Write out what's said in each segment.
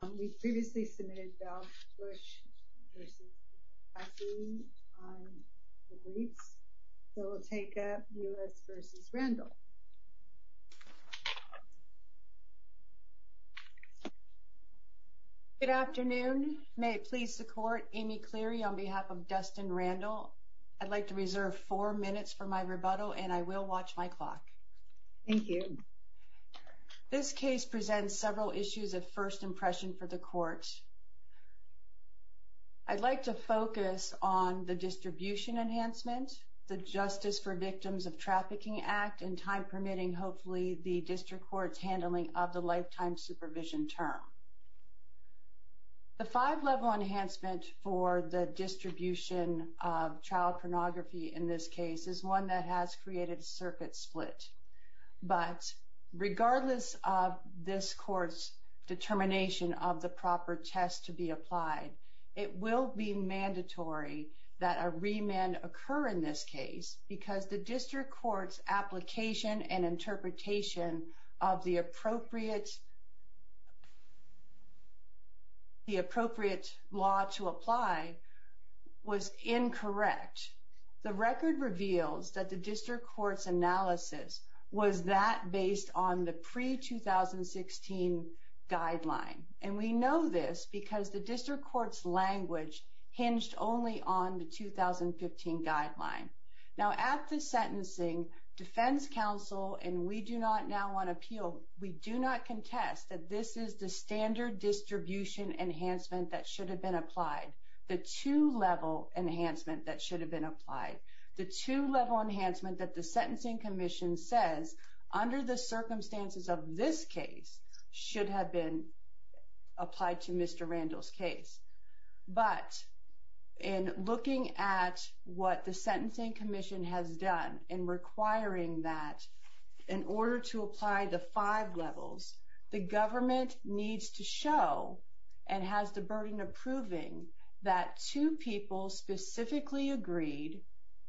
Good afternoon. May it please the court, Amy Cleary on behalf of Dustin Randall. I'd like to reserve four minutes for my rebuttal and I will watch my clock. Thank you. This case presents several issues of first impression for the court. I'd like to focus on the distribution enhancement, the Justice for Victims of Trafficking Act, and time permitting, hopefully, the district court's handling of the lifetime supervision term. The five-level enhancement for the distribution of Regardless of this court's determination of the proper test to be applied, it will be mandatory that a remand occur in this case because the district court's application and interpretation of the appropriate law to apply was incorrect. The record reveals that the district court's analysis was that based on the pre-2016 guideline, and we know this because the district court's language hinged only on the 2015 guideline. Now at the sentencing, defense counsel and we do not now want to appeal, we do not contest that this is the standard distribution enhancement that should have been applied, the two-level enhancement that should have been applied, the two-level enhancement that the Sentencing Commission says under the circumstances of this case should have been applied to Mr. Randall's case. But in looking at what the Sentencing Commission has done in requiring that in order to apply the five levels, the government needs to show and has the burden of proving that two people specifically agreed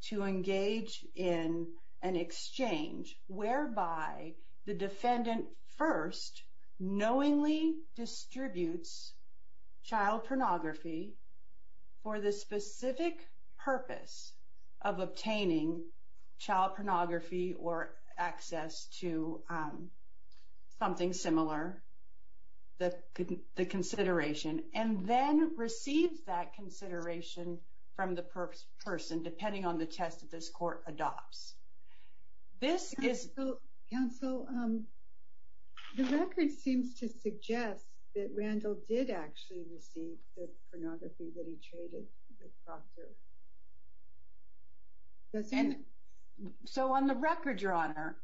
to engage in an exchange whereby the defendant first knowingly distributes child pornography for the specific purpose of obtaining child pornography or access to something similar, the consideration, and then receives that consideration from the person, depending on the test that this court adopts. This is... Counsel, the record seems to suggest that Randall did actually receive the pornography that he traded with Proctor. So on the record, Your Honor,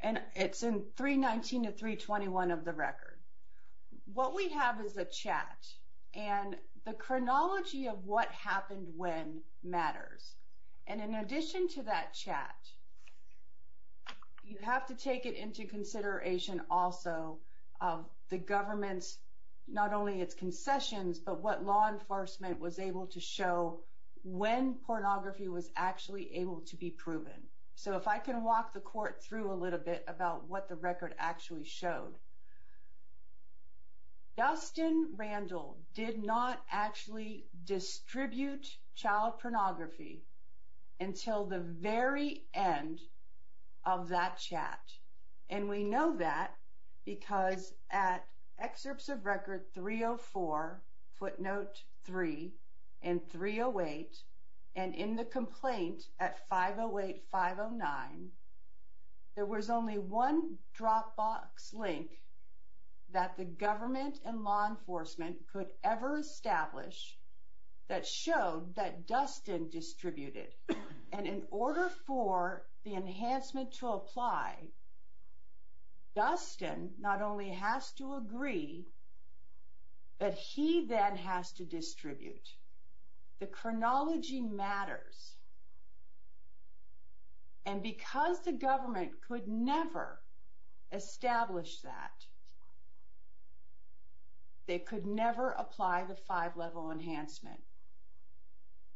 and it's in 319 to 321 of the record, what we have is a chat, and the chronology of what happened when matters. And in addition to that chat, you have to take it into consideration also of the government's, not only its concessions, but what law enforcement was able to show when pornography was actually able to be proven. So if I can walk the court through a little bit about what the record actually showed. Dustin Randall did not actually distribute child pornography until the very end of that chat. And we know that because at excerpts of record 304, footnote 3, and 308, and in the record, there was only one dropbox link that the government and law enforcement could ever establish that showed that Dustin distributed. And in order for the enhancement to apply, Dustin not only has to agree, but he then has to distribute. The chronology matters, and because the government could never establish that, they could never apply the five-level enhancement.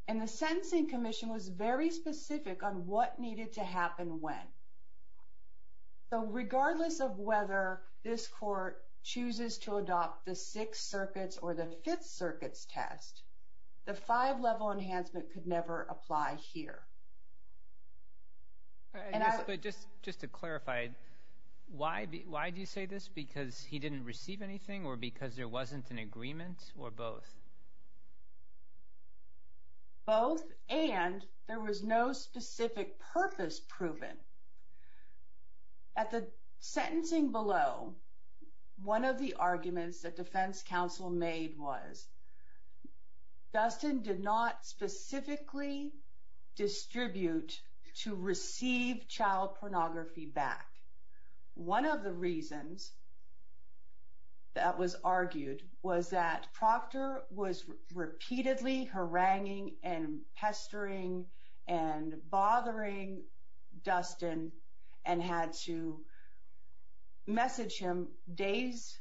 And the Sentencing Commission was very specific on what needed to happen when. So regardless of whether this court chooses to adopt the Sixth Circuit's or the Fifth Circuit's test, the five-level enhancement could never apply here. But just to clarify, why do you say this? Because he didn't receive anything or because there wasn't an agreement, or both? Both, and there was no specific purpose proven. At the sentencing below, one of the arguments that defense counsel made was Dustin did not specifically distribute to receive child pornography back. One of the reasons that was argued was that Proctor was repeatedly haranguing and pestering and bothering Dustin and had to message him days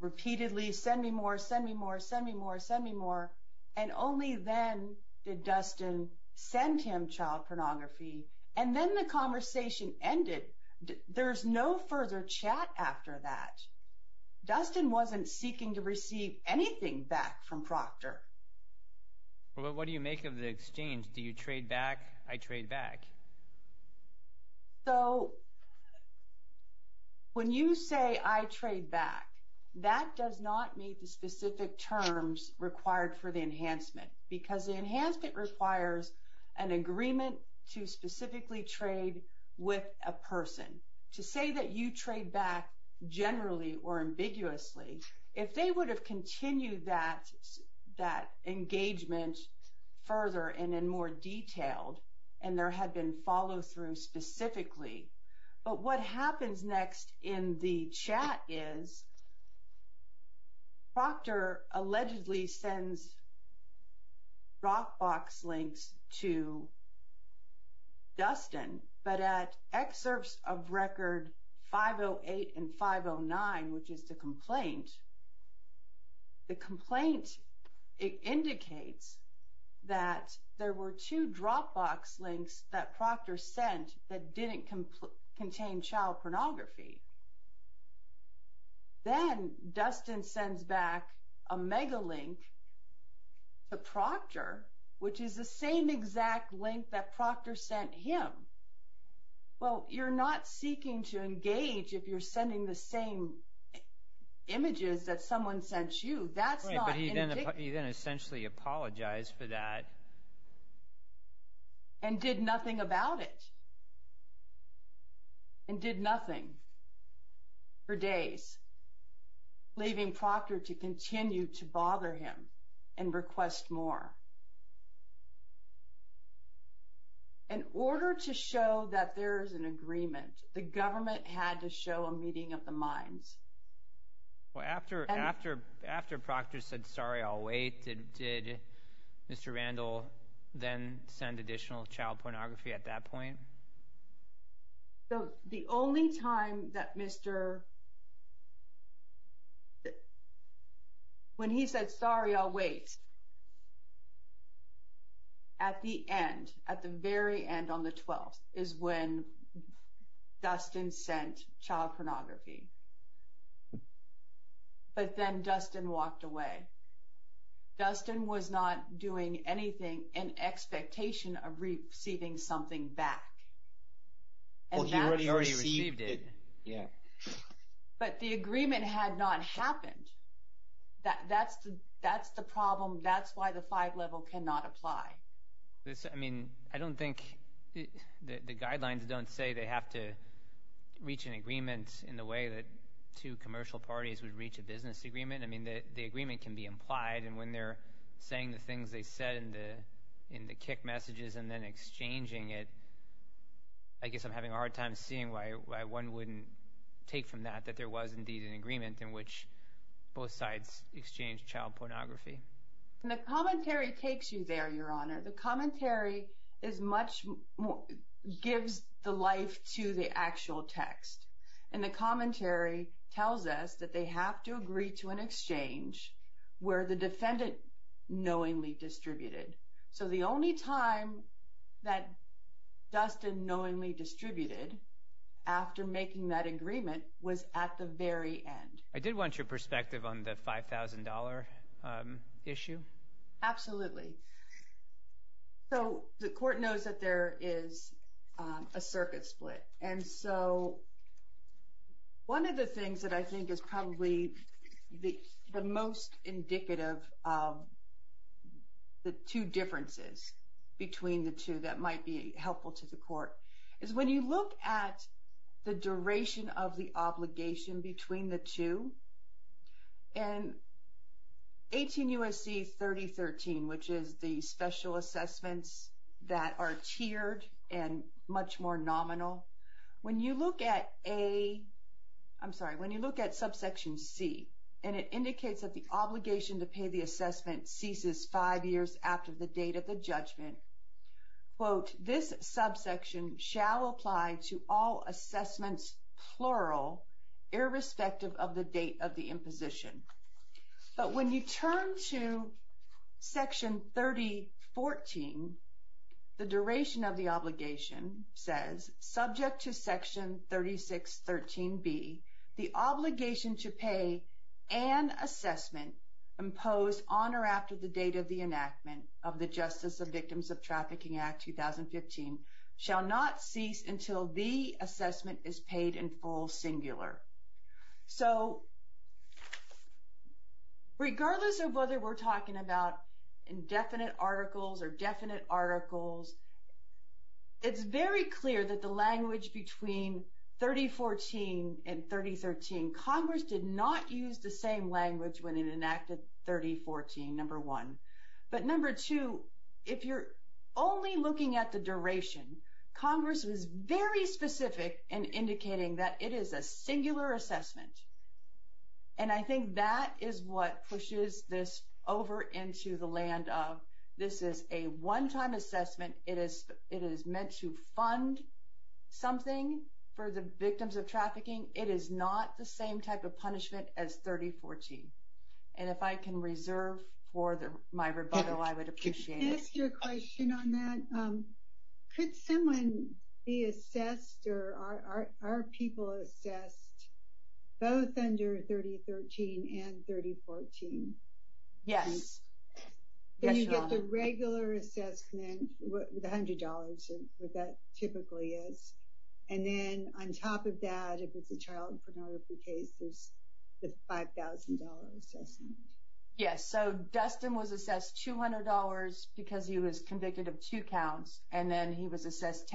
repeatedly, send me more, send me more, send me more, send me more, and only then did Dustin send him child pornography. And then the conversation ended. There's no further chat after that. Dustin wasn't seeking to receive anything back from Proctor. But what do you make of the exchange, do you trade back, I trade back? So when you say, I trade back, that does not meet the specific terms required for the enhancement, because the enhancement requires an agreement to specifically trade with a person. To say that you trade back generally or ambiguously, if they would have continued that engagement further and in more detail, and there had been follow-through specifically. But what happens next in the but at excerpts of record 508 and 509, which is the complaint, the complaint indicates that there were two Dropbox links that Proctor sent that didn't contain child pornography. Then Dustin sends back a Megalink to Proctor, which is the same exact link that Proctor sent him. Well, you're not seeking to engage if you're sending the same images that someone sent you. That's not... Right, but he then essentially apologized for that. And did nothing about it, and did nothing for days, leaving Proctor to continue to wait. In order to show that there is an agreement, the government had to show a meeting of the minds. Well, after Proctor said, sorry, I'll wait, did Mr. Randall then send additional child pornography at that point? The only time that Mr.... when he said, sorry, I'll wait, at the end, at the very end on the 12th, is when Dustin sent child pornography. But then Dustin walked away. Dustin was not doing anything in expectation of receiving something back. Well, he already received it, yeah. But the agreement had not happened. That's the problem, that's why the five level cannot apply. This, I mean, I don't think, the guidelines don't say they have to reach an agreement in the way that two commercial parties would reach a business agreement. I mean, the agreement can be implied, and when they're saying the things they said in the kick messages and then exchanging it, I guess I'm having a hard time seeing why one wouldn't take from that that there was indeed an agreement in which both sides exchanged child pornography. And the commentary takes you there, Your Honor. The commentary is much more, gives the life to the actual text. And the commentary tells us that they have to agree to an exchange where the defendant knowingly distributed. So the only time that Dustin knowingly distributed after making that agreement was at the very end. I did want your perspective on the $5,000 issue. Absolutely. So the court knows that there is a circuit split. And so one of the most indicative of the two differences between the two that might be helpful to the court is when you look at the duration of the obligation between the two. And 18 U.S.C. 3013, which is the special assessments that are tiered and much more and it indicates that the obligation to pay the assessment ceases five years after the date of the judgment. Quote, this subsection shall apply to all assessments, plural, irrespective of the date of the imposition. But when you turn to Section 3014, the duration of the obligation says, subject to Section 3013B, the obligation to pay an assessment imposed on or after the date of the enactment of the Justice of Victims of Trafficking Act 2015 shall not cease until the assessment is paid in full, singular. So regardless of whether we're talking about indefinite articles or definite articles, it's very clear that the language between 3014 and 3013, Congress did not use the same language when it enacted 3014, number one. But number two, if you're only looking at the duration, Congress was very specific in indicating that it is a singular assessment. And I think that is what pushes this over into the land of this is a one-time assessment, it is meant to fund something for the victims of trafficking, it is not the same type of punishment as 3014. And if I can reserve for my rebuttal, I would appreciate it. Can I ask you a question on that? Could someone be assessed, or are people assessed both under 3013 and 3014? Yes. Then you get the regular assessment, the $100, what that typically is. And then on top of that, if it's a child pornography case, there's the $5,000 assessment. Yes, so Dustin was assessed $200 because he was convicted of two counts, and then he was assessed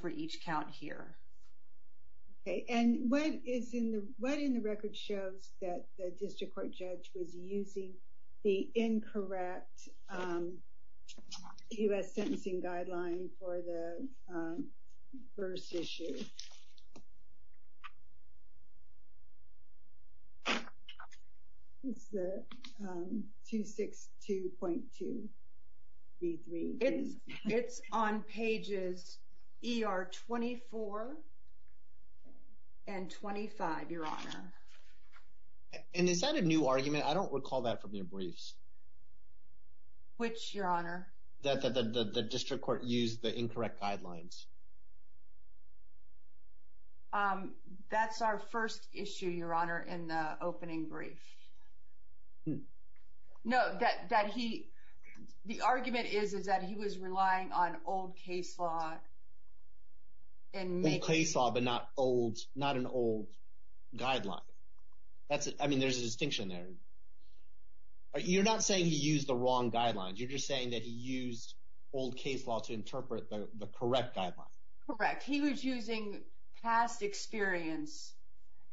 for each count here. Okay, and what in the record shows that the district court judge was using the incorrect U.S. sentencing guideline for the first issue? It's the 262.233. It's on pages ER 24 and 25, Your Honor. And is that a new argument? I don't recall that from your briefs. Which, Your Honor? That the district court used the incorrect guidelines. That's our first issue, Your Honor, in the opening brief. No, the argument is that he was relying on old case law. Old case law, but not an old guideline. I mean, there's a distinction there. You're not saying he used the wrong guidelines. You're just saying that he used old case law to interpret the correct guideline. Correct, he was using past experience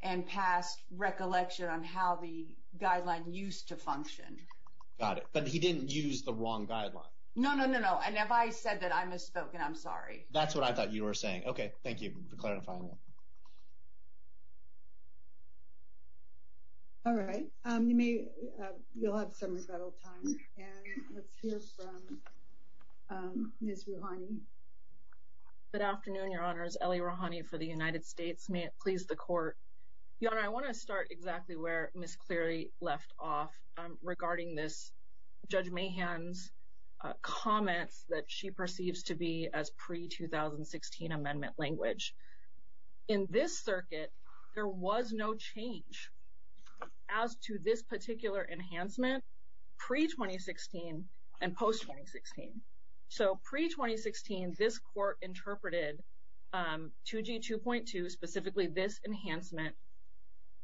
and past recollection on how the guideline used to function. Got it, but he didn't use the wrong guideline. No, no, no, no, and if I said that, I misspoke, and I'm sorry. That's what I thought you were saying. Okay, thank you for clarifying that. All right, you'll have some rebuttal time, and let's hear from Ms. Rouhani. Good afternoon, Your Honors. Ellie Rouhani for the United States. May it please the Court. Your Honor, I want to start exactly where Ms. Cleary left off regarding this Judge Mahan's comments that she perceives to be as pre-2016 amendment language. In this circuit, there was no change as to this particular enhancement pre-2016 and post-2016. So pre-2016, this Court interpreted 2G2.2, specifically this enhancement,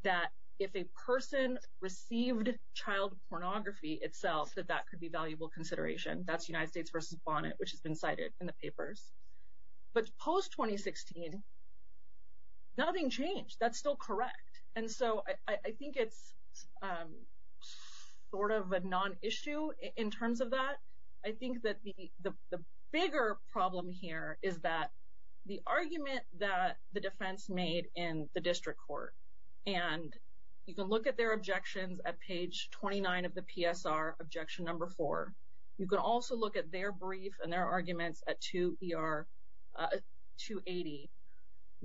that if a person received child pornography itself, that that could be valuable consideration. That's United States v. Bonnet, which has been cited in the papers. But post-2016, nothing changed. That's still correct. And so I think it's sort of a non-issue in terms of that. I think that the bigger problem here is that the argument that the defense made in the District Court, and you can look at their objections at page 29 of the PSR, objection number four. You can also look at their brief and their arguments at 2ER280.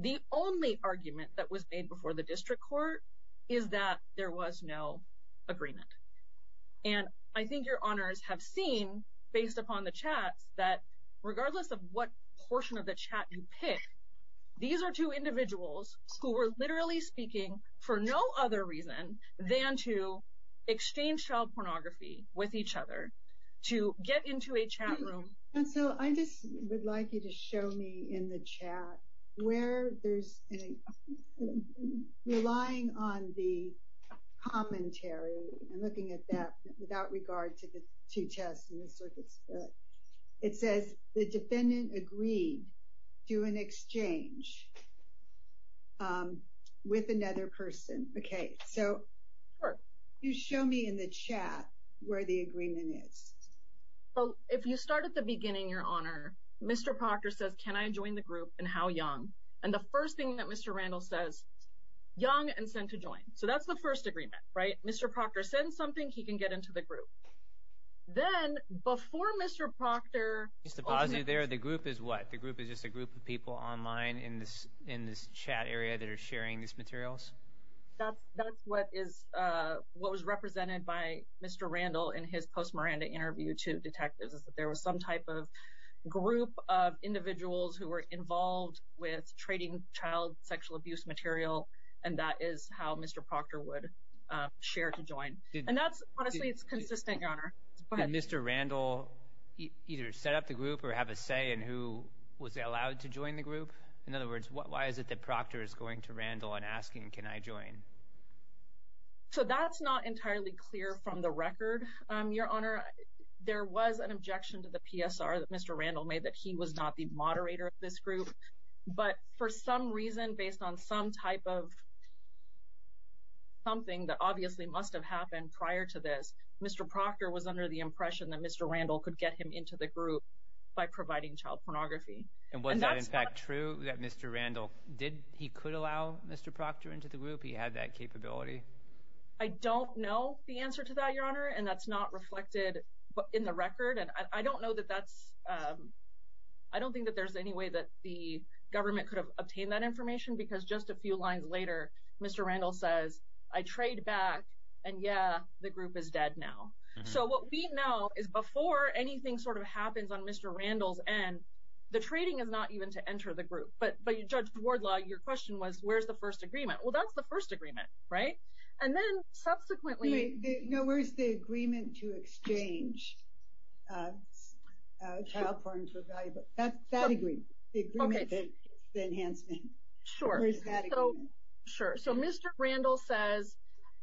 The only argument that was made before the District Court is that there was no agreement. And I think your honors have seen, based upon the chats, that regardless of what portion of the chat you pick, these are two individuals who were literally speaking for no other reason than to exchange child pornography with each other, to get into a chat room. And so I just would like you to show me in the chat where there's any relying on the commentary and looking at that without regard to the two tests and the circuit split. It says the defendant agreed to an exchange with another person. Okay. So you show me in the chat where the agreement is. If you start at the beginning, your honor, Mr. Proctor says, can I join the group and how young? And the first thing that Mr. Randall says, young and send to join. So that's the first agreement, right? Mr. Proctor sends something, he can get into the group. Then, before Mr. Proctor opens it. Just to posit there, the group is what? The group is just a group of people online in this chat area that are sharing these materials? That's what was represented by Mr. Randall in his post-Miranda interview to detectives, is that there was some type of group of individuals who were involved with trading child sexual abuse material, and that is how Mr. Proctor would share to join. And that's, honestly, it's consistent, your honor. Go ahead. Did Mr. Randall either set up the group or have a say in who was allowed to join the group? In other words, why is it that Proctor is going to Randall and asking, can I join? So that's not entirely clear from the record, your honor. There was an objection to the PSR that Mr. Randall made that he was not the moderator of this group. But for some reason, based on some type of something that obviously must have happened prior to this, Mr. Proctor was under the impression that Mr. Randall could get him into the group by providing child pornography. And was that, in fact, true that Mr. Randall did, he could allow Mr. Proctor into the group? He had that capability? I don't know the answer to that, your honor, and that's not reflected in the record. And I don't know that that's, I don't think that there's any way that the government could have obtained that information because just a few lines later, Mr. Randall says, I trade back, and yeah, the group is dead now. So what we know is before anything sort of happens on Mr. Randall's end, the trading is not even to enter the group. But Judge Wardlaw, your question was, where's the first agreement? Well, that's the first agreement, right? And then subsequently – No, where's the agreement to exchange child porn for valuable, that agreement, the agreement, the enhancement. Sure. Where's that agreement? Sure. So Mr. Randall says,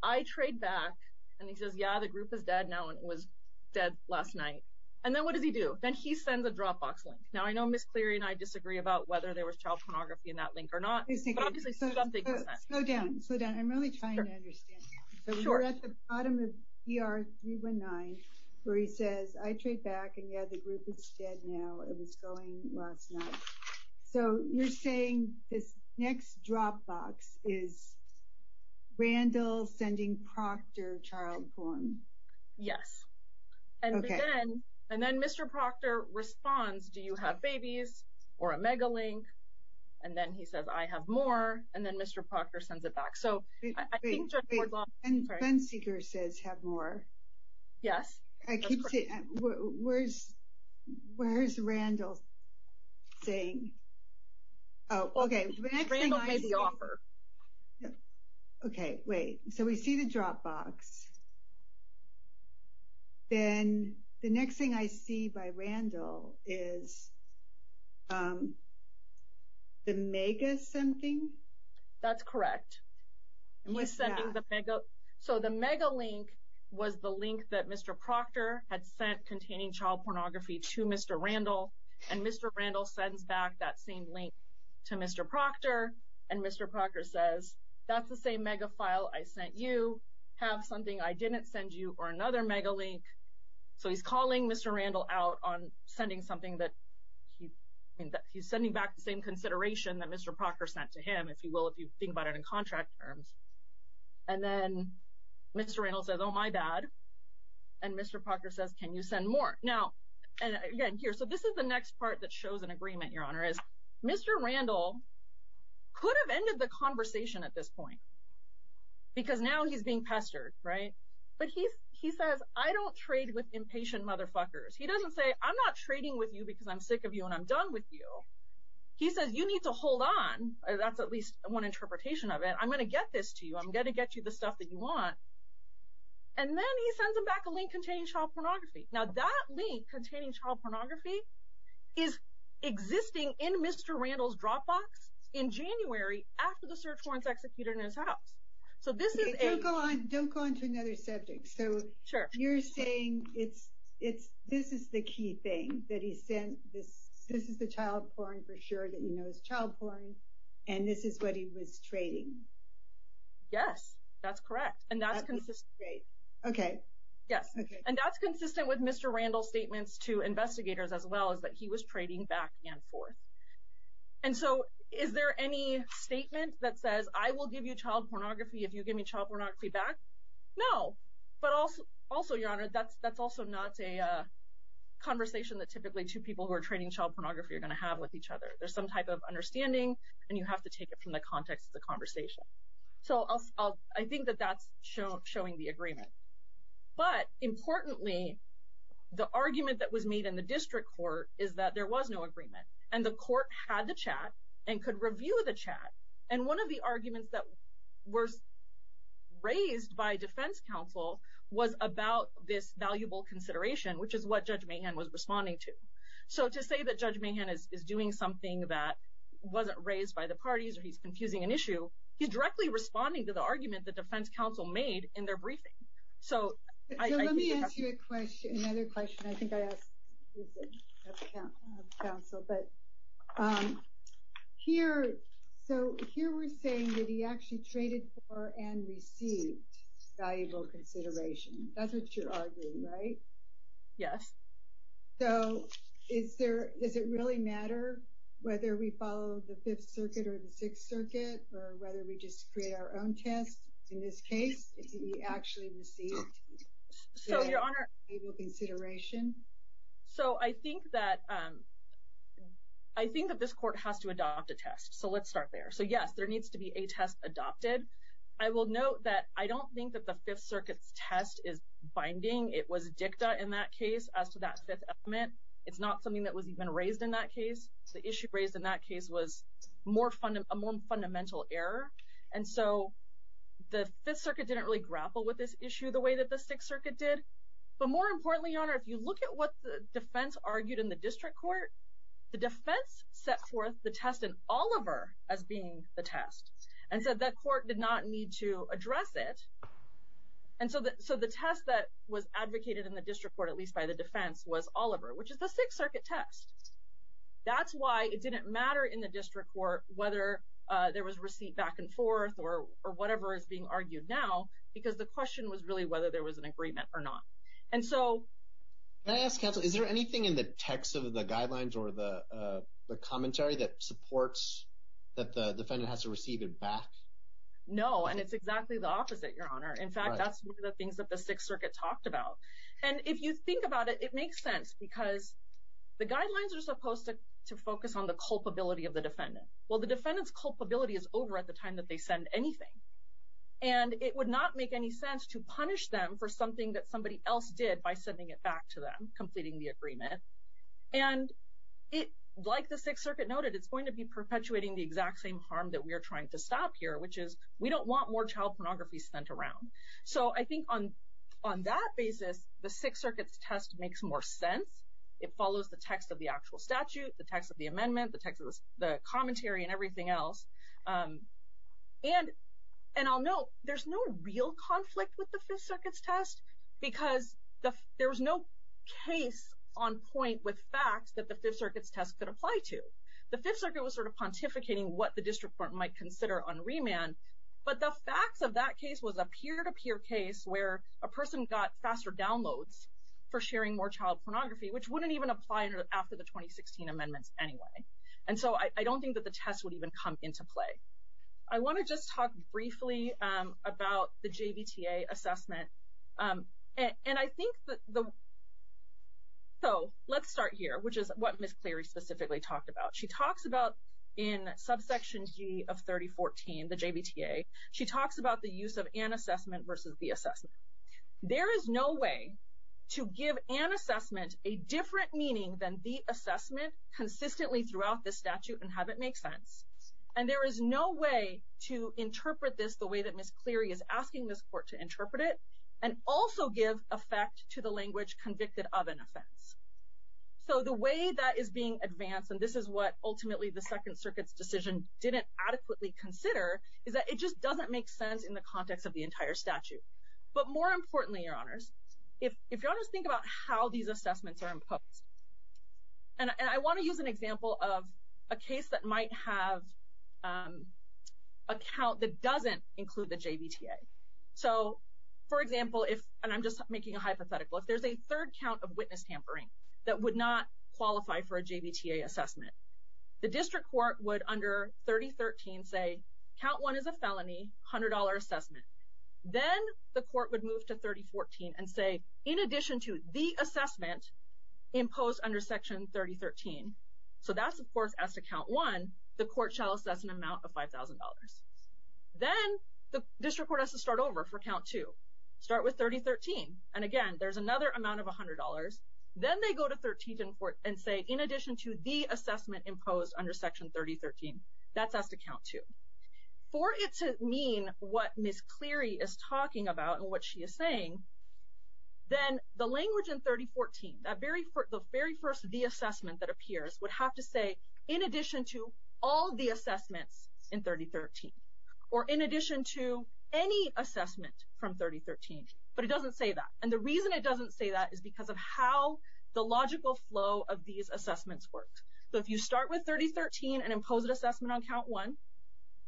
I trade back, and he says, yeah, the group is dead now, and it was dead last night. And then what does he do? Then he sends a Dropbox link. Now, I know Ms. Cleary and I disagree about whether there was child pornography in that link or not, but obviously something was sent. Slow down. Slow down. I'm really trying to understand. Sure. So we're at the bottom of ER 319 where he says, I trade back, and yeah, the group is dead now. It was going last night. So you're saying this next Dropbox is Randall sending Proctor child porn? Yes. Okay. And then Mr. Proctor responds, do you have babies or a Megalink? And then he says, I have more, and then Mr. Proctor sends it back. So I think Judge Wardlaw – Wait, Ben Seeger says have more. Yes. Where is Randall saying? Oh, okay. Randall made the offer. Okay, wait. So we see the Dropbox. Then the next thing I see by Randall is the Mega something? That's correct. So the Megalink was the link that Mr. Proctor had sent containing child pornography to Mr. Randall, and Mr. Randall sends back that same link to Mr. Proctor, and Mr. Proctor says, that's the same Mega file I sent you. Have something I didn't send you or another Megalink. So he's calling Mr. Randall out on sending something that – he's sending back the same consideration that Mr. Proctor sent to him, if you will, if you think about it in contract terms. And then Mr. Randall says, oh, my bad. And Mr. Proctor says, can you send more? Now, again, here. So this is the next part that shows an agreement, Your Honor, is Mr. Randall could have ended the conversation at this point because now he's being pestered, right? But he says, I don't trade with impatient motherfuckers. He doesn't say, I'm not trading with you because I'm sick of you and I'm done with you. He says, you need to hold on. That's at least one interpretation of it. I'm going to get this to you. I'm going to get you the stuff that you want. And then he sends him back a link containing child pornography. Now, that link containing child pornography is existing in Mr. Randall's Dropbox in January after the search warrants executed in his house. So this is a – Don't go on to another subject. So you're saying this is the key thing that he sent, this is the child porn for sure that you know is child porn, and this is what he was trading. Yes, that's correct. And that's consistent. Okay. Yes, and that's consistent with Mr. Randall's statements to investigators as well is that he was trading back and forth. And so is there any statement that says, I will give you child pornography if you give me child pornography back? No. But also, Your Honor, that's also not a conversation that typically two people who are trading child pornography are going to have with each other. There's some type of understanding, and you have to take it from the context of the conversation. So I think that that's showing the agreement. But importantly, the argument that was made in the district court is that there was no agreement. And the court had the chat and could review the chat. And one of the arguments that was raised by defense counsel was about this valuable consideration, which is what Judge Mahan was responding to. So to say that Judge Mahan is doing something that wasn't raised by the parties or he's confusing an issue, he's directly responding to the argument that defense counsel made in their briefing. So let me ask you another question. I think I asked the defense counsel. But here we're saying that he actually traded for and received valuable consideration. That's what you're arguing, right? Yes. So does it really matter whether we follow the Fifth Circuit or the Sixth Circuit or whether we just create our own test? In this case, did he actually receive valuable consideration? So I think that this court has to adopt a test. So let's start there. So, yes, there needs to be a test adopted. I will note that I don't think that the Fifth Circuit's test is binding. It was dicta in that case as to that fifth element. It's not something that was even raised in that case. The issue raised in that case was a more fundamental error. And so the Fifth Circuit didn't really grapple with this issue the way that the Sixth Circuit did. But more importantly, Your Honor, if you look at what the defense argued in the district court, the defense set forth the test in Oliver as being the test. And so that court did not need to address it. And so the test that was advocated in the district court, at least by the defense, was Oliver, which is the Sixth Circuit test. That's why it didn't matter in the district court whether there was a receipt back and forth or whatever is being argued now, because the question was really whether there was an agreement or not. And so… Can I ask, Counsel, is there anything in the text of the guidelines or the commentary that supports that the defendant has to receive it back? No, and it's exactly the opposite, Your Honor. In fact, that's one of the things that the Sixth Circuit talked about. And if you think about it, it makes sense, because the guidelines are supposed to focus on the culpability of the defendant. Well, the defendant's culpability is over at the time that they send anything. And it would not make any sense to punish them for something that somebody else did by sending it back to them, completing the agreement. And like the Sixth Circuit noted, it's going to be perpetuating the exact same harm that we are trying to stop here, which is we don't want more child pornography spent around. So I think on that basis, the Sixth Circuit's test makes more sense. It follows the text of the actual statute, the text of the amendment, the text of the commentary, and everything else. And I'll note, there's no real conflict with the Fifth Circuit's test, because there was no case on point with facts that the Fifth Circuit's test could apply to. The Fifth Circuit was sort of pontificating what the district court might consider on remand, but the facts of that case was a peer-to-peer case where a person got faster downloads for sharing more child pornography, which wouldn't even apply after the 2016 amendments anyway. And so I don't think that the test would even come into play. I want to just talk briefly about the JVTA assessment. And I think that the – so let's start here, which is what Ms. Cleary specifically talked about. She talks about in subsection G of 3014, the JVTA, she talks about the use of an assessment versus the assessment. There is no way to give an assessment a different meaning than the assessment consistently throughout the statute and have it make sense. And there is no way to interpret this the way that Ms. Cleary is asking this court to interpret it, and also give effect to the language convicted of an offense. So the way that is being advanced, and this is what ultimately the Second Circuit's decision didn't adequately consider, is that it just doesn't make sense in the context of the entire statute. But more importantly, Your Honors, if you all just think about how these assessments are imposed, and I want to use an example of a case that might have a count that doesn't include the JVTA. So, for example, if – and I'm just making a hypothetical – if there's a third count of witness tampering that would not qualify for a JVTA assessment, the district court would under 3013 say, count one is a felony, $100 assessment. Then the court would move to 3014 and say, in addition to the assessment imposed under section 3013. So that's, of course, as to count one, the court shall assess an amount of $5,000. Then the district court has to start over for count two. Start with 3013, and again, there's another amount of $100. Then they go to 1314 and say, in addition to the assessment imposed under section 3013. That's as to count two. For it to mean what Ms. Cleary is talking about and what she is saying, then the language in 3014, that very first the assessment that appears, would have to say, in addition to all the assessments in 3013. Or in addition to any assessment from 3013. But it doesn't say that. And the reason it doesn't say that is because of how the logical flow of these assessments works. So if you start with 3013 and impose an assessment on count one,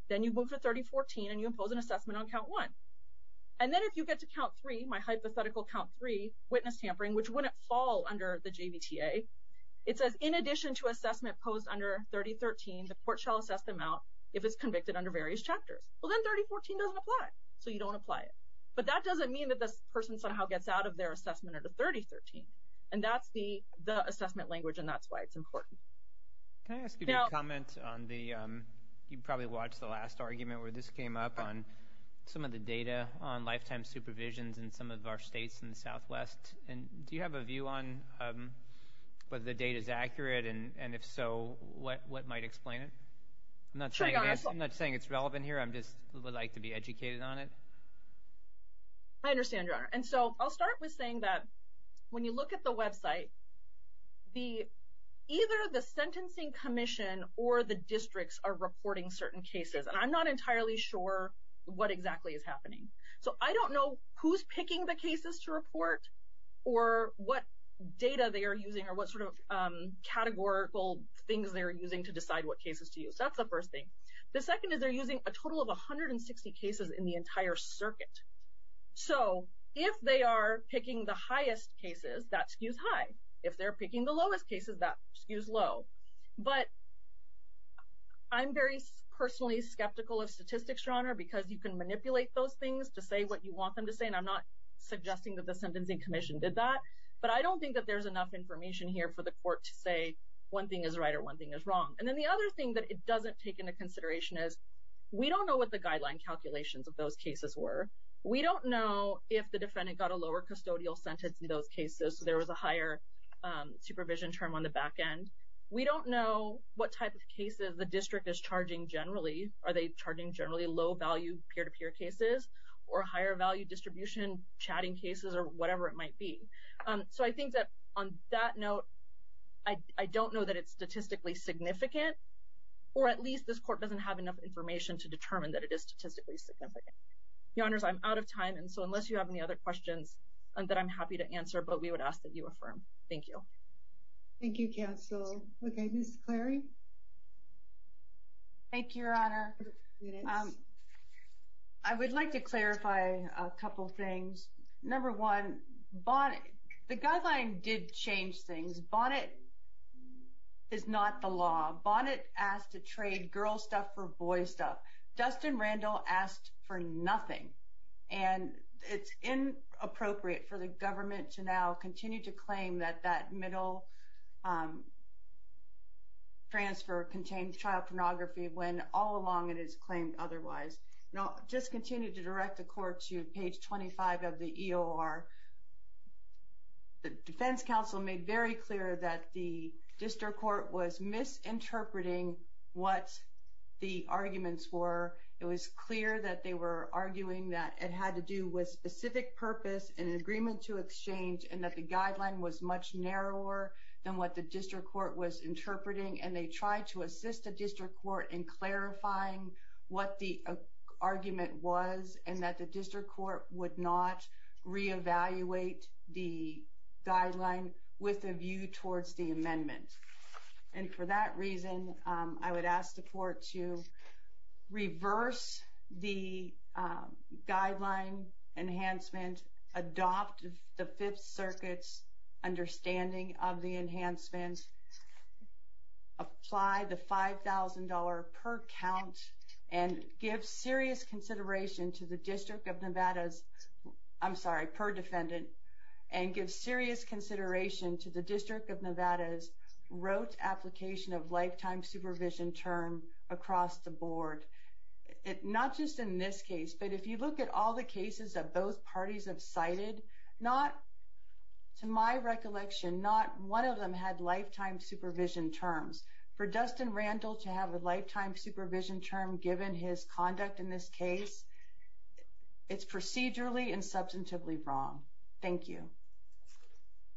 then you move to 3014 and you impose an assessment on count one. And then if you get to count three, my hypothetical count three, witness tampering, which wouldn't fall under the JVTA, it says, in addition to assessment imposed under 3013, the court shall assess the amount if it's convicted under various chapters. Well, then 3014 doesn't apply. So you don't apply it. But that doesn't mean that this person somehow gets out of their assessment under 3013. And that's the assessment language, and that's why it's important. Can I ask you to comment on the, you probably watched the last argument where this came up, on some of the data on lifetime supervisions in some of our states in the Southwest. And do you have a view on whether the data is accurate? And if so, what might explain it? I'm not saying it's relevant here. I understand, Your Honor. And so I'll start with saying that when you look at the website, either the Sentencing Commission or the districts are reporting certain cases. And I'm not entirely sure what exactly is happening. So I don't know who's picking the cases to report or what data they are using or what sort of categorical things they are using to decide what cases to use. That's the first thing. The second is they're using a total of 160 cases in the entire circuit. So if they are picking the highest cases, that skews high. If they're picking the lowest cases, that skews low. But I'm very personally skeptical of statistics, Your Honor, because you can manipulate those things to say what you want them to say, and I'm not suggesting that the Sentencing Commission did that. But I don't think that there's enough information here for the court to say one thing is right or one thing is wrong. And then the other thing that it doesn't take into consideration is we don't know what the guideline calculations of those cases were. We don't know if the defendant got a lower custodial sentence in those cases, so there was a higher supervision term on the back end. We don't know what type of cases the district is charging generally. Are they charging generally low-value peer-to-peer cases or higher-value distribution chatting cases or whatever it might be? So I think that on that note, I don't know that it's statistically significant, or at least this court doesn't have enough information to determine that it is statistically significant. Your Honors, I'm out of time, and so unless you have any other questions, that I'm happy to answer, but we would ask that you affirm. Thank you. Thank you, Counsel. Okay, Ms. Clary? Thank you, Your Honor. I would like to clarify a couple things. Number one, the guideline did change things. Bonnet is not the law. Bonnet asked to trade girls' stuff for boys' stuff. Dustin Randall asked for nothing, and it's inappropriate for the government to now continue to claim that that middle transfer contains child pornography when all along it has claimed otherwise. I'll just continue to direct the Court to page 25 of the EOR. The defense counsel made very clear that the district court was misinterpreting what the arguments were. It was clear that they were arguing that it had to do with specific purpose and an agreement to exchange, and that the guideline was much narrower than what the district court was interpreting, and they tried to assist the district court in clarifying what the argument was and that the district court would not reevaluate the guideline with a view towards the amendment. And for that reason, I would ask the Court to reverse the guideline enhancement, adopt the Fifth Circuit's understanding of the enhancement, apply the $5,000 per count, and give serious consideration to the District of Nevada's, I'm sorry, per defendant, and give serious consideration to the District of Nevada's rote application of lifetime supervision term across the board. Not just in this case, but if you look at all the cases that both parties have cited, to my recollection, not one of them had lifetime supervision terms. For Dustin Randall to have a lifetime supervision term given his conduct in this case, it's procedurally and substantively wrong. Thank you.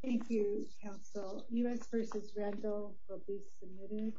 Thank you, Counsel. U.S. v. Randall will be submitted.